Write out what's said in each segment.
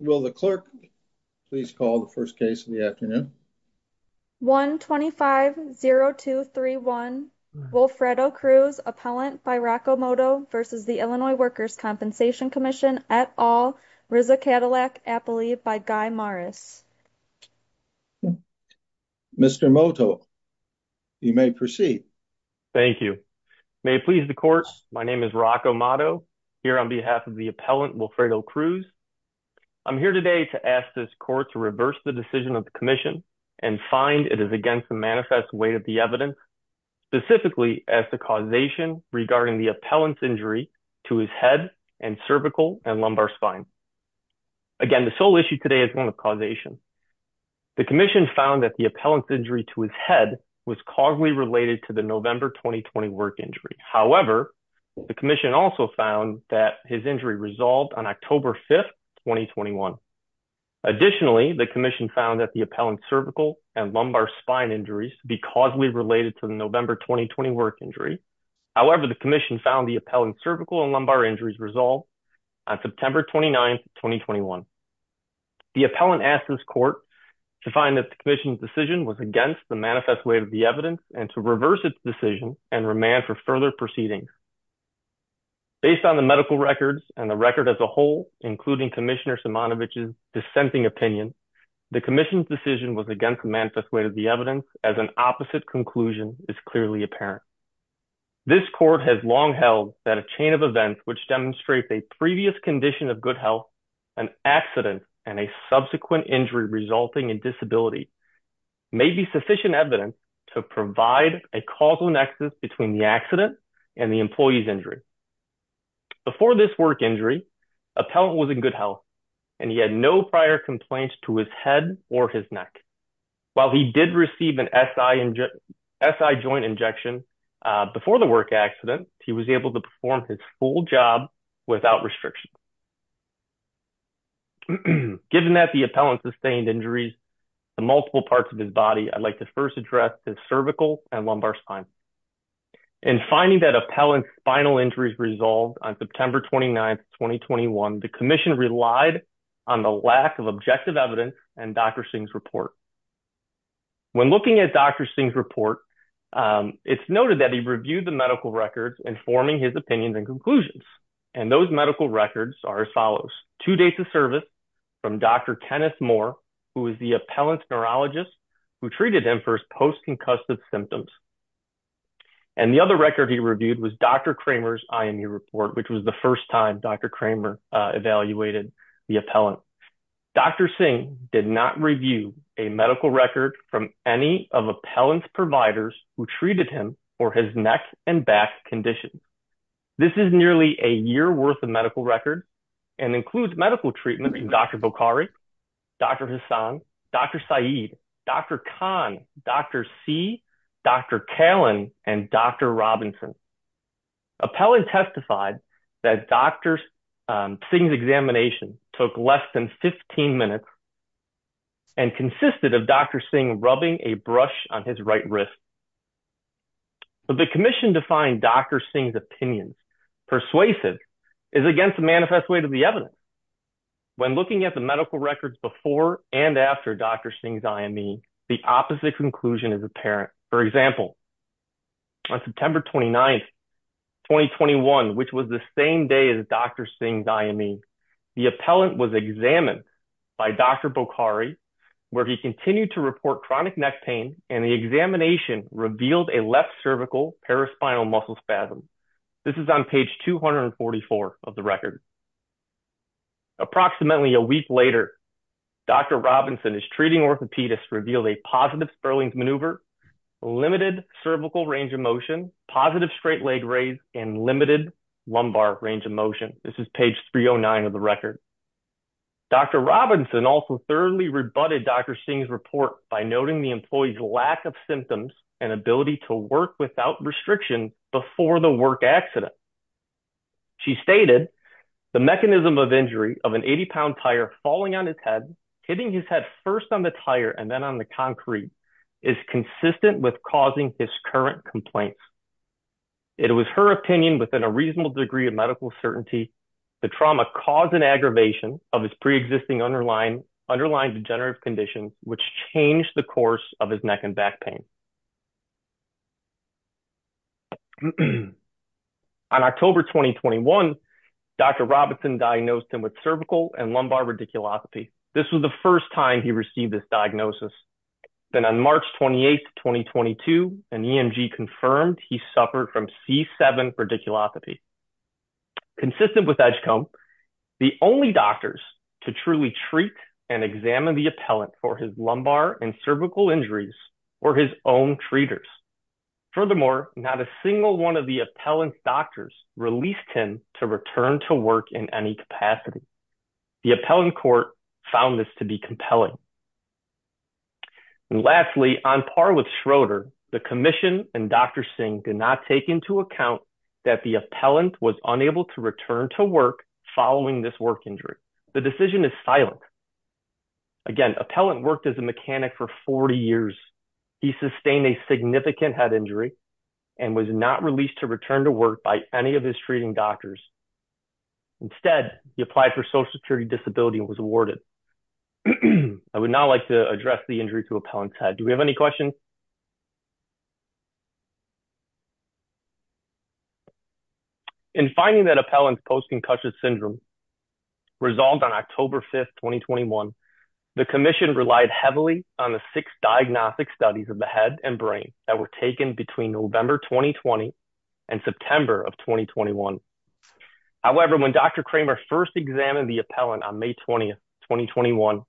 Will the clerk please call the first case of the afternoon? 1-25-0231 Wilfredo Cruz, appellant by Rocco Motto v. Illinois Workers' Compensation Comm'n et al., RZA Cadillac, Appali by Guy Morris. Mr. Motto, you may proceed. Thank you. May it please the courts, my name is Rocco Motto, here on behalf of the appellant Wilfredo Cruz. I'm here today to ask this court to reverse the decision of the commission and find it is against the manifest weight of the evidence, specifically as the causation regarding the appellant's injury to his head and cervical and lumbar spine. Again, the sole issue today is one of causation. The commission found that the appellant's injury to his head was causally related to the November 2020 work injury. However, the commission also found that his injury resolved on October 5, 2021. Additionally, the commission found that the appellant's cervical and lumbar spine injuries to be causally related to the November 2020 work injury. However, the commission found the appellant's cervical and lumbar injuries resolved on September 29, 2021. The appellant asked this court to find that the commission's decision was against the manifest weight of the evidence and to reverse its decision and remand for further proceedings. Based on the medical records and the record as a whole, including Commissioner Simonovic's dissenting opinion, the commission's decision was against the manifest weight of the evidence as an opposite conclusion is clearly apparent. This court has long held that a chain of events which demonstrates a previous condition of good health, an accident, and a subsequent injury resulting in disability may be sufficient evidence to provide a causal nexus between the accident and the employee's injury. Before this work injury, appellant was in good health and he had no prior complaints to his head or his neck. While he did receive an SI joint injection before the work accident, he was able to perform his full job without restriction. Given that the appellant sustained injuries to multiple parts of his body, I'd like to first address his cervical and lumbar spine. In finding that appellant's spinal injuries resolved on September 29, 2021, the commission relied on the lack of objective evidence and Dr. Singh's report. When looking at Dr. Singh's report, it's noted that he reviewed the medical records informing his opinions and conclusions, and those medical records are as follows. Two days of service from Dr. Kenneth Moore, who is the appellant's neurologist, who treated him for his post-concussive symptoms. And the other record he reviewed was Dr. Kramer's IMU report, which was the first time Dr. Kramer evaluated the appellant. Dr. Singh did not review a medical record from any of appellant's providers who treated him for his neck and back condition. This is nearly a year worth of medical record and includes medical treatment from Dr. Bokhari, Dr. Hassan, Dr. Saeed, Dr. Khan, Dr. See, Dr. Callen, and Dr. Robinson. Appellant testified that Dr. Singh's examination took less than 15 minutes and consisted of Dr. Singh rubbing a brush on his right wrist. But the commission defined Dr. Singh's opinions persuasive is against the manifest weight of evidence. When looking at the medical records before and after Dr. Singh's IME, the opposite conclusion is apparent. For example, on September 29th, 2021, which was the same day as Dr. Singh's IME, the appellant was examined by Dr. Bokhari, where he continued to report chronic neck pain, and the examination revealed a left cervical paraspinal muscle spasm. This is on page 244 of the record. Approximately a week later, Dr. Robinson's treating orthopedist revealed a positive Sperling's maneuver, limited cervical range of motion, positive straight leg raise, and limited lumbar range of motion. This is page 309 of the record. Dr. Robinson also thoroughly rebutted Dr. Singh's report by noting the employee's lack of symptoms and ability to work without restriction before the work accident. She stated, the mechanism of injury of an 80-pound tire falling on his head, hitting his head first on the tire and then on the concrete, is consistent with causing his current complaints. It was her opinion within a reasonable degree of medical certainty the trauma caused an aggravation of his pre-existing underlying degenerative conditions, which changed the course of his neck and neck pain. On October 2021, Dr. Robinson diagnosed him with cervical and lumbar radiculoscopy. This was the first time he received this diagnosis. Then on March 28, 2022, an EMG confirmed he suffered from C7 radiculoscopy. Consistent with Edgecombe, the only doctors to truly treat and examine the appellant for his lumbar and cervical injuries were his own treaters. Furthermore, not a single one of the appellant's doctors released him to return to work in any capacity. The appellant court found this to be compelling. Lastly, on par with Schroeder, the commission and Dr. Singh did not take into account that the appellant was unable to return to work following this work injury. The decision is silent. Again, appellant worked as a mechanic for 40 years. He sustained a significant head injury and was not released to return to work by any of his treating doctors. Instead, he applied for social security disability and was awarded. I would now like to address the injury to appellant's head. Do we have any questions? In finding that appellant's post-concussion syndrome resolved on October 5, 2021, the commission relied heavily on the six diagnostic studies of the head and brain that were taken between November 2020 and September of 2021. However, when Dr. Kramer first examined the appellant on May 20, 2021,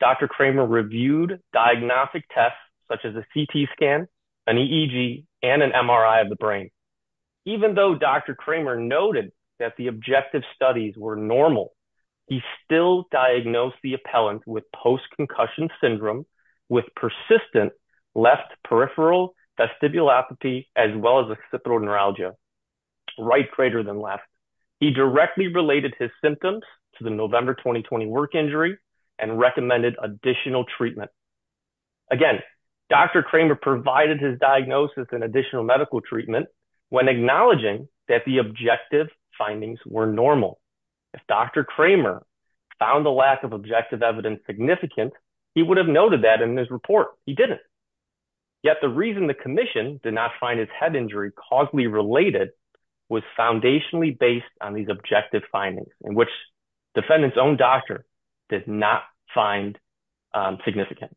Dr. Kramer reviewed diagnostic tests such as a CT scan, an EEG, and an MRI of the brain. Even though Dr. Kramer noted that the objective studies were normal, he still diagnosed the appellant with post-concussion syndrome with persistent left peripheral vestibular apathy as well as occipital neuralgia, right greater than left. He directly related his symptoms to the November 2020 work injury and recommended additional treatment. Again, Dr. Kramer provided his diagnosis and additional medical treatment when acknowledging that the objective findings were normal. If Dr. Kramer found the lack of objective evidence significant, he would have noted that in his report. He didn't. Yet the reason the commission did not find his head injury causally related was foundationally based on these objective findings in which defendant's own doctor did not find significant.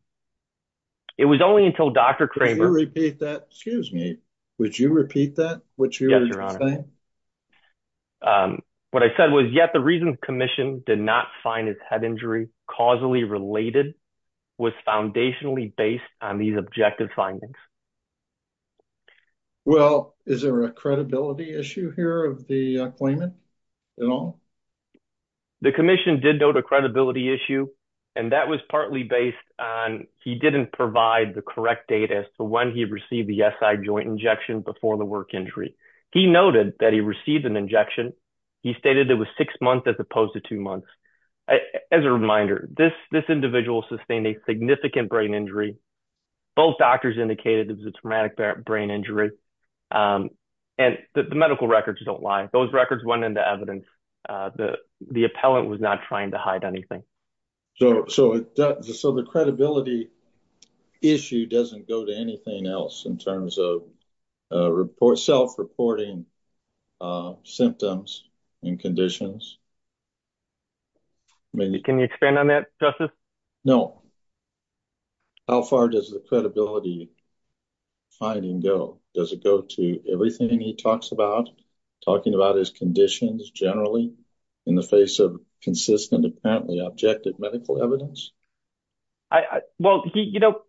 It was only until Dr. Kramer that, excuse me, would you repeat that? What I said was yet the reason the commission did not find his head injury causally related was foundationally based on these objective findings. Well, is there a credibility issue here of the claimant at all? The commission did note a credibility issue and that was partly based on he didn't provide the correct data as to when he received the SI joint injection before the work injury. He noted that he received an injection. He stated it was six months as opposed to two months. As a reminder, this individual sustained a significant brain injury. Both doctors indicated it was a traumatic brain injury. And the medical records don't lie. Those records went into evidence. The appellant was not trying to hide anything. So the credibility issue doesn't go to anything else in terms of self-reporting symptoms and conditions. Can you expand on that, Justice? No. How far does the credibility finding go? Does it go to everything he talks about, talking about his conditions generally in the face of apparently objective medical evidence? Well, you know,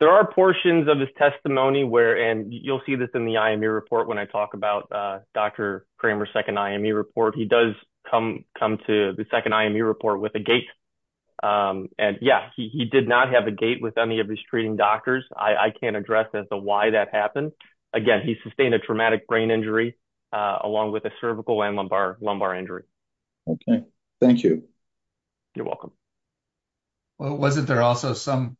there are portions of his testimony where, and you'll see this in the IME report when I talk about Dr. Kramer's second IME report. He does come to the second IME report with a gait. And yeah, he did not have a gait with any of his treating doctors. I can't address as to why that happened. Again, he sustained a traumatic brain injury along with a cervical and lumbar injury. Okay. Thank you. Well, wasn't there also some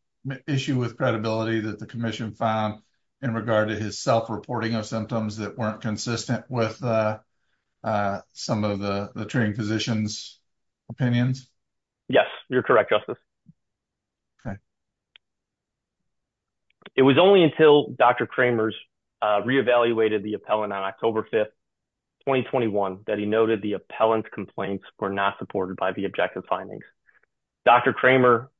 issue with credibility that the commission found in regard to his self-reporting of symptoms that weren't consistent with some of the treating physicians' opinions? Yes, you're correct, Justice. It was only until Dr. Kramer's re-evaluated the appellant on October 5th, 2021, that he noted the appellant's complaints were not supported by the objective findings. Dr. Kramer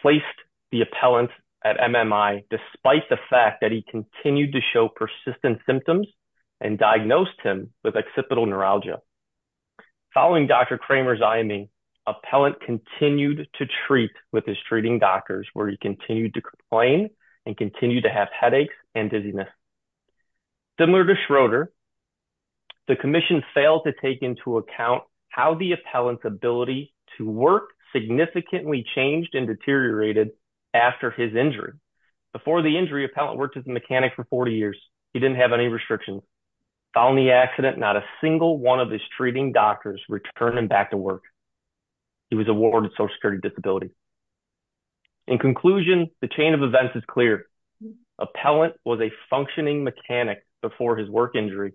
placed the appellant at MMI despite the fact that he continued to show persistent symptoms and diagnosed him with occipital neuralgia. Following Dr. Kramer's IME, appellant continued to treat with his treating doctors, where he continued to complain and continued to have headaches and dizziness. Similar to Schroeder, the commission failed to take into account how the appellant's ability to work significantly changed and deteriorated after his injury. Before the injury, the appellant worked as a mechanic for 40 years. He didn't have any restrictions. Following the accident, not a single one of his treating doctors returned him back to work. He was awarded social security disability. In conclusion, the chain of events is clear. Appellant was a functioning mechanic before his work injury,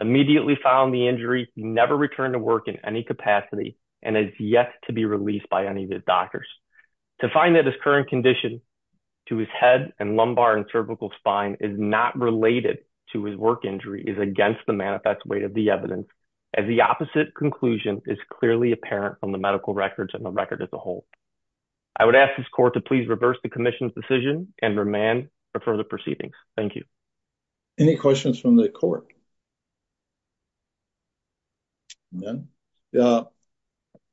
immediately found the injury, never returned to work in any capacity, and is yet to be released by any of his doctors. To find that his current condition to his head and lumbar and cervical spine is not related to his work injury is against the manifest weight of the evidence, as the opposite conclusion is clearly apparent from the medical records and the record as a whole. I would ask this court to please reverse the commission's decision and remand for further proceedings. Thank you. Any questions from the court? No.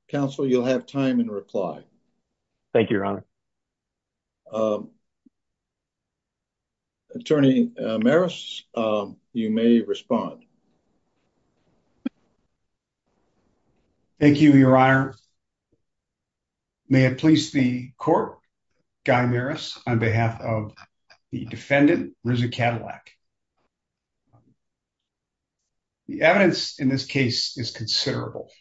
Counsel, you'll have time in reply. Thank you, your honor. Attorney Maris, you may respond. Thank you, your honor. May it please the court, Guy Maris, on behalf of the defendant, Risa Cadillac. The evidence in this case is considerable,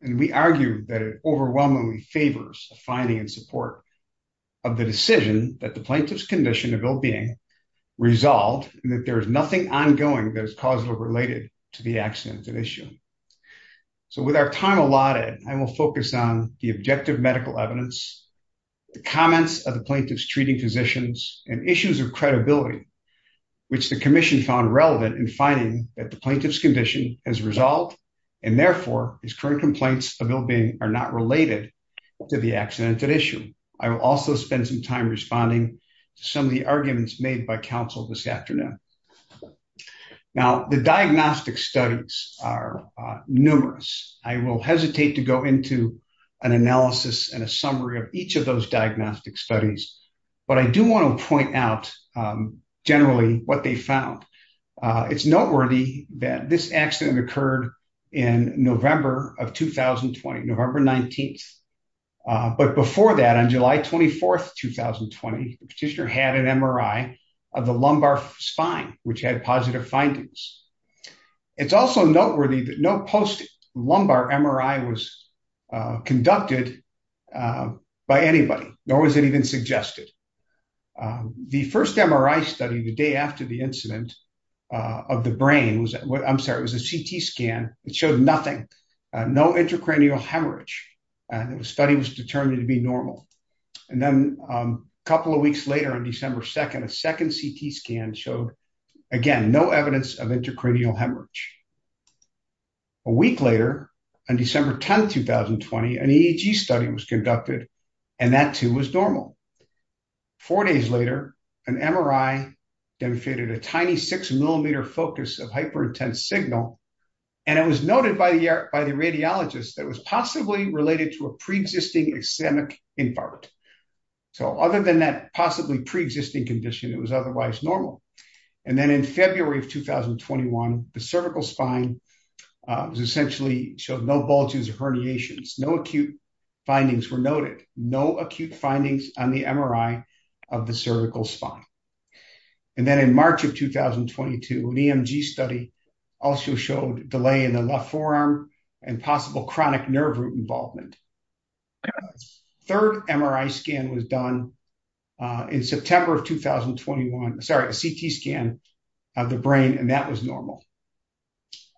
and we argue that it overwhelmingly favors the finding and support of the decision that the plaintiff's condition of ill-being resolved, and that there is nothing ongoing that is causally related to the accident at issue. So with our time allotted, I will focus on the objective medical evidence, the comments of the plaintiff's treating physicians, and issues of credibility, which the commission found relevant in finding that the plaintiff's condition has resolved, and therefore, his current complaints of ill-being are not related to the accident at issue. I will also spend some time responding to some of the arguments made by counsel this afternoon. Now, the diagnostic studies are numerous. I will hesitate to go into an analysis and a summary of each of those diagnostic studies, but I do want to point out generally what they found. It's July 24, 2020, the petitioner had an MRI of the lumbar spine, which had positive findings. It's also noteworthy that no post-lumbar MRI was conducted by anybody, nor was it even suggested. The first MRI study the day after the incident of the brain was, I'm sorry, it was a CT scan. It showed nothing, no intracranial hemorrhage, and the study was determined to be normal. And then, a couple of weeks later, on December 2nd, a second CT scan showed, again, no evidence of intracranial hemorrhage. A week later, on December 10, 2020, an EEG study was conducted, and that too was normal. Four days later, an MRI demonstrated a tiny six-millimeter focus of hyper-intense signal, and it was noted by the radiologist that it was possibly related to a pre-existing ischemic infarct. So, other than that possibly pre-existing condition, it was otherwise normal. And then, in February of 2021, the cervical spine essentially showed no bulges or herniations. No acute findings were noted, no acute findings on the MRI of the cervical spine. And then, in March of 2022, an EMG study also showed delay in the forearm and possible chronic nerve root involvement. A third MRI scan was done in September of 2021, sorry, a CT scan of the brain, and that was normal.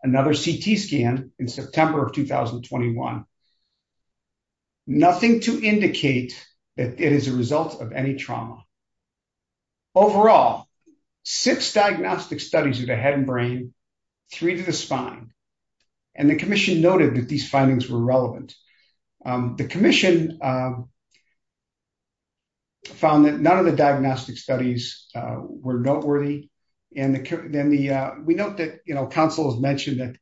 Another CT scan in September of 2021, nothing to indicate that it is a result of any trauma. Overall, six diagnostic studies of the head and brain, three to the spine, and the commission noted that these findings were relevant. The commission found that none of the diagnostic studies were noteworthy, and we note that counsel has mentioned that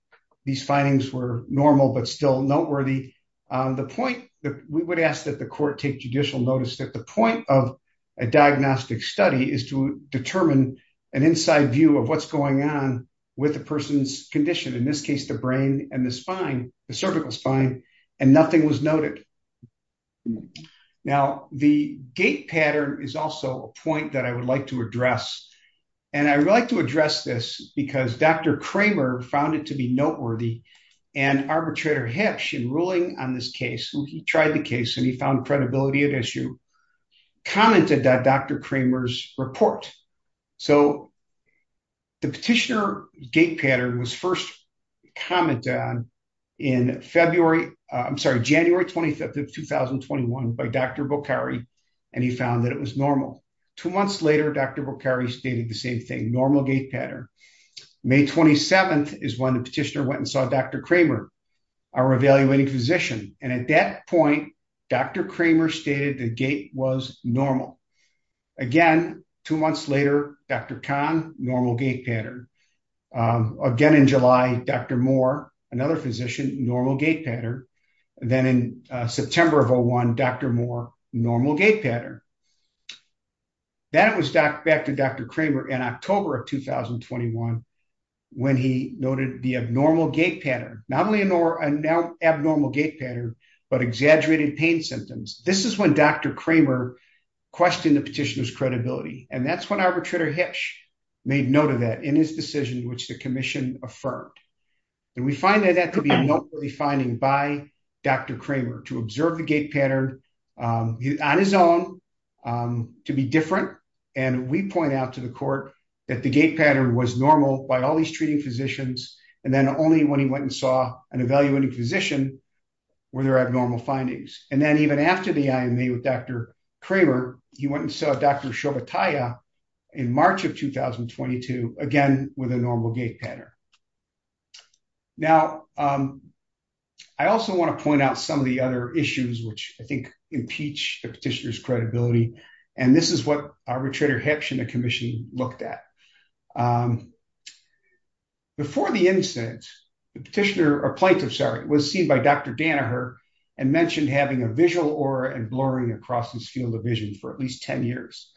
these findings were normal but still noteworthy. The point that we would ask that court take judicial notice that the point of a diagnostic study is to determine an inside view of what's going on with a person's condition, in this case, the brain and the spine, the cervical spine, and nothing was noted. Now, the gait pattern is also a point that I would like to address. And I would like to address this because Dr. Kramer found it to be noteworthy, and arbitrator Hipsch, in ruling on this case, he tried the case and he found credibility at issue, commented that Dr. Kramer's report. So, the petitioner gait pattern was first commented on in February, I'm sorry, January 25th of 2021 by Dr. Bokhari, and he found that it was normal. Two months later, Dr. Bokhari stated the same thing, normal gait pattern. May 27th is when petitioner went and saw Dr. Kramer, our evaluating physician, and at that point, Dr. Kramer stated the gait was normal. Again, two months later, Dr. Khan, normal gait pattern. Again in July, Dr. Moore, another physician, normal gait pattern. Then in September of 01, Dr. Moore, normal gait pattern. That was back to Dr. Kramer in October of 2021, when he noted the abnormal gait pattern, not only an abnormal gait pattern, but exaggerated pain symptoms. This is when Dr. Kramer questioned the petitioner's credibility, and that's when arbitrator Hipsch made note of that in his decision, which the commission affirmed. And we find that to be a noteworthy finding by Dr. Kramer to observe the gait pattern on his own, to be different, and we point out to the court that the gait pattern was normal by all these treating physicians, and then only when he went and saw an evaluating physician were there abnormal findings. And then even after the IME with Dr. Kramer, he went and saw Dr. Shobhatia in March of 2022, again with a normal gait pattern. Now, I also want to point out some of the other issues which I think impeach the petitioner's credibility, and this is what arbitrator Hipsch and the commission looked at. Before the incident, the petitioner, or plaintiff, sorry, was seen by Dr. Danaher and mentioned having a visual aura and blurring across his field of vision for at least 10 years.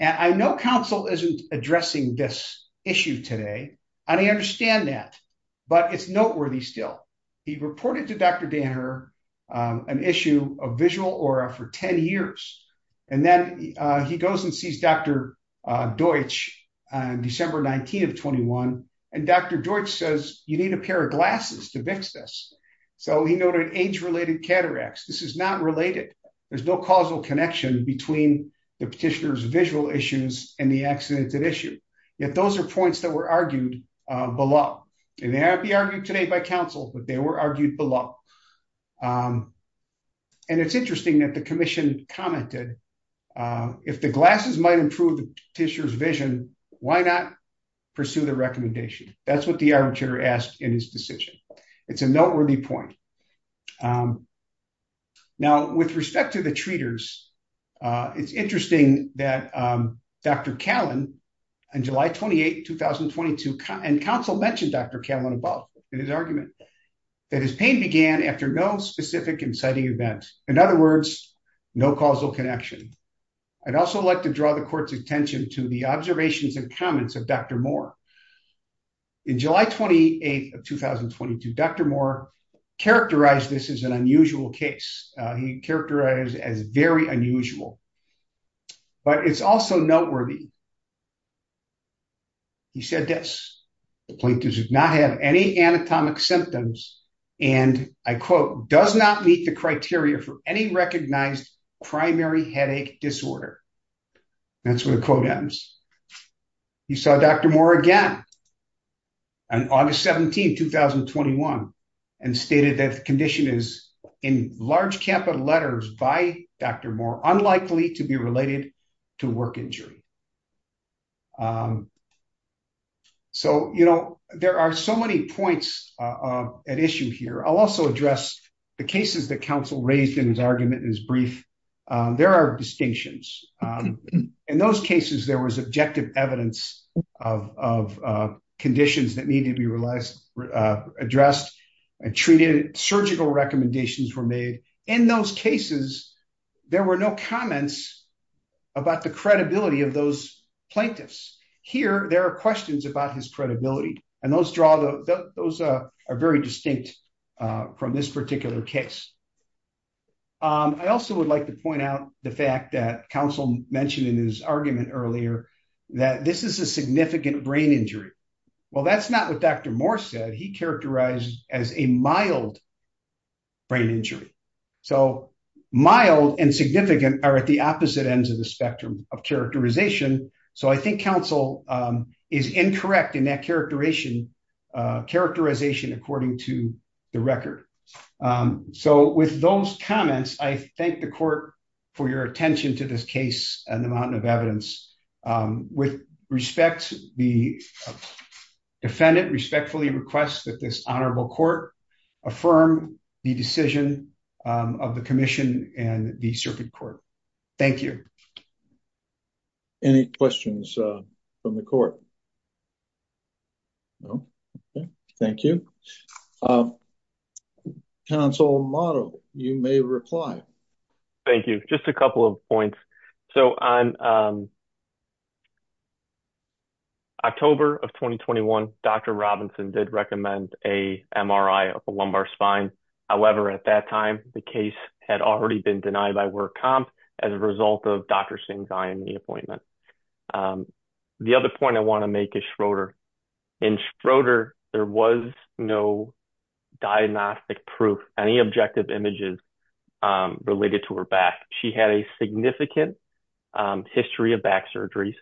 And I know counsel isn't addressing this issue today, and I understand that, but it's noteworthy still. He reported to Dr. Danaher an issue of visual aura for 10 years, and then he goes and sees Dr. Deutsch on December 19 of 21, and Dr. Deutsch says, you need a pair of glasses to fix this. So he noted age-related cataracts. This is not related. There's no causal connection between the petitioner's visual issues and the accident at issue. Yet those are points that were argued below, and they have to be argued today by counsel, but they were argued below. And it's interesting that the commission commented, if the glasses might improve the petitioner's vision, why not pursue the recommendation? That's what the arbitrator asked in his decision. It's a noteworthy point. Now, with respect to the treaters, it's interesting that Dr. Callan, on July 28, 2022, and counsel mentioned Dr. Callan above in his argument, that his pain began after no specific inciting event. In other words, no causal connection. I'd also like to draw the court's attention to the observations and comments of Dr. Moore. In July 28 of 2022, Dr. Moore characterized this as an unusual case. He characterized it as very unusual. But it's also noteworthy. He said this, the plaintiff does not have any anatomic symptoms, and I quote, does not meet the criteria for any recognized primary headache disorder. That's where the quote ends. You saw Dr. Moore again on August 17, 2021, and stated that the condition is, in large capital letters by Dr. Moore, unlikely to be related to work injury. So, you know, there are so many points at issue here. I'll also address the cases that counsel raised in his argument, in his brief. There are distinctions. In those cases, there was objective evidence of conditions that needed to be addressed and treated. Surgical recommendations were made. In those cases, there were no comments about the credibility of those plaintiffs. Here, there are questions about his credibility, and those are very distinct from this particular case. I also would like to point out the fact that counsel mentioned in his argument earlier, that this is a significant brain injury. Well, that's not what Dr. Moore said. He characterized as a mild brain injury. So, mild and significant are at the opposite ends of the spectrum of characterization, so I think counsel is incorrect in that characterization, characterization according to the record. So, with those comments, I thank the court for your attention to this case and the amount of evidence. With respect, the defendant respectfully requests that this honorable court affirm the decision of the commission and the circuit court. Thank you. Any questions from the court? Okay. Thank you. Counsel Motto, you may reply. Thank you. Just a couple of points. So, on October of 2021, Dr. Robinson did recommend a MRI of a lumbar spine. However, at that time, the case had already been denied by work comp as a result of Dr. Singh's IME appointment. The other point I want to make is Schroeder. In Schroeder, there was no diagnostic proof, any objective images related to her back. She had a significant history of back surgeries.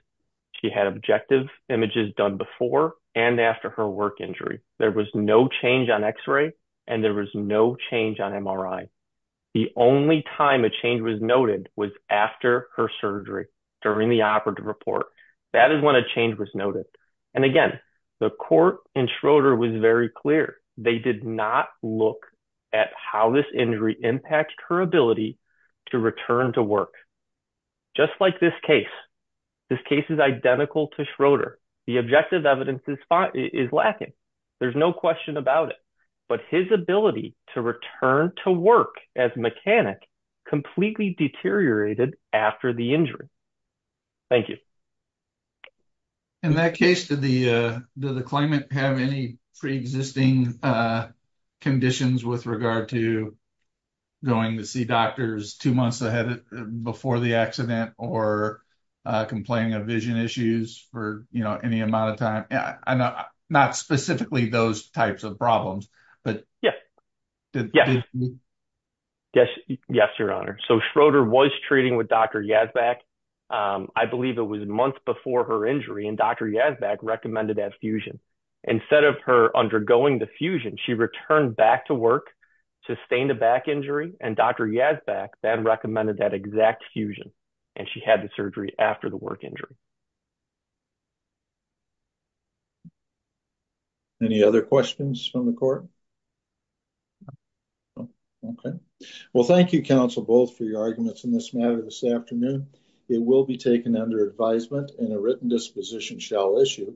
She had objective images done before and after her work injury. There was no change on x-ray, and there was no change on MRI. The only time a change was noted was after her surgery, during the operative report. That is when a change was noted. And again, the court in Schroeder was very clear. They did not look at how this injury impacted her ability to return to work. Just like this case, this case is identical to Schroeder. The objective evidence is lacking. There's no question about it. But his ability to return to work as a mechanic completely deteriorated after the injury. Thank you. In that case, did the claimant have any pre-existing conditions with regard to going to see doctors two months ahead of, before the accident, or complaining of vision issues for, you know, any amount of time? Not specifically those types of problems, but... Yes. Yes. Yes. Yes, your honor. So, Schroeder was treating with Dr. Yazbek. I believe it was months before her injury, and Dr. Yazbek recommended that fusion. Instead of her undergoing the fusion, she returned back to work, sustained a back injury, and Dr. Yazbek then recommended that exact fusion, and she had the surgery after the work injury. Any other questions from the court? Okay. Well, thank you, counsel, both for your arguments in this matter this afternoon. It will be taken under advisement, and a written disposition shall issue.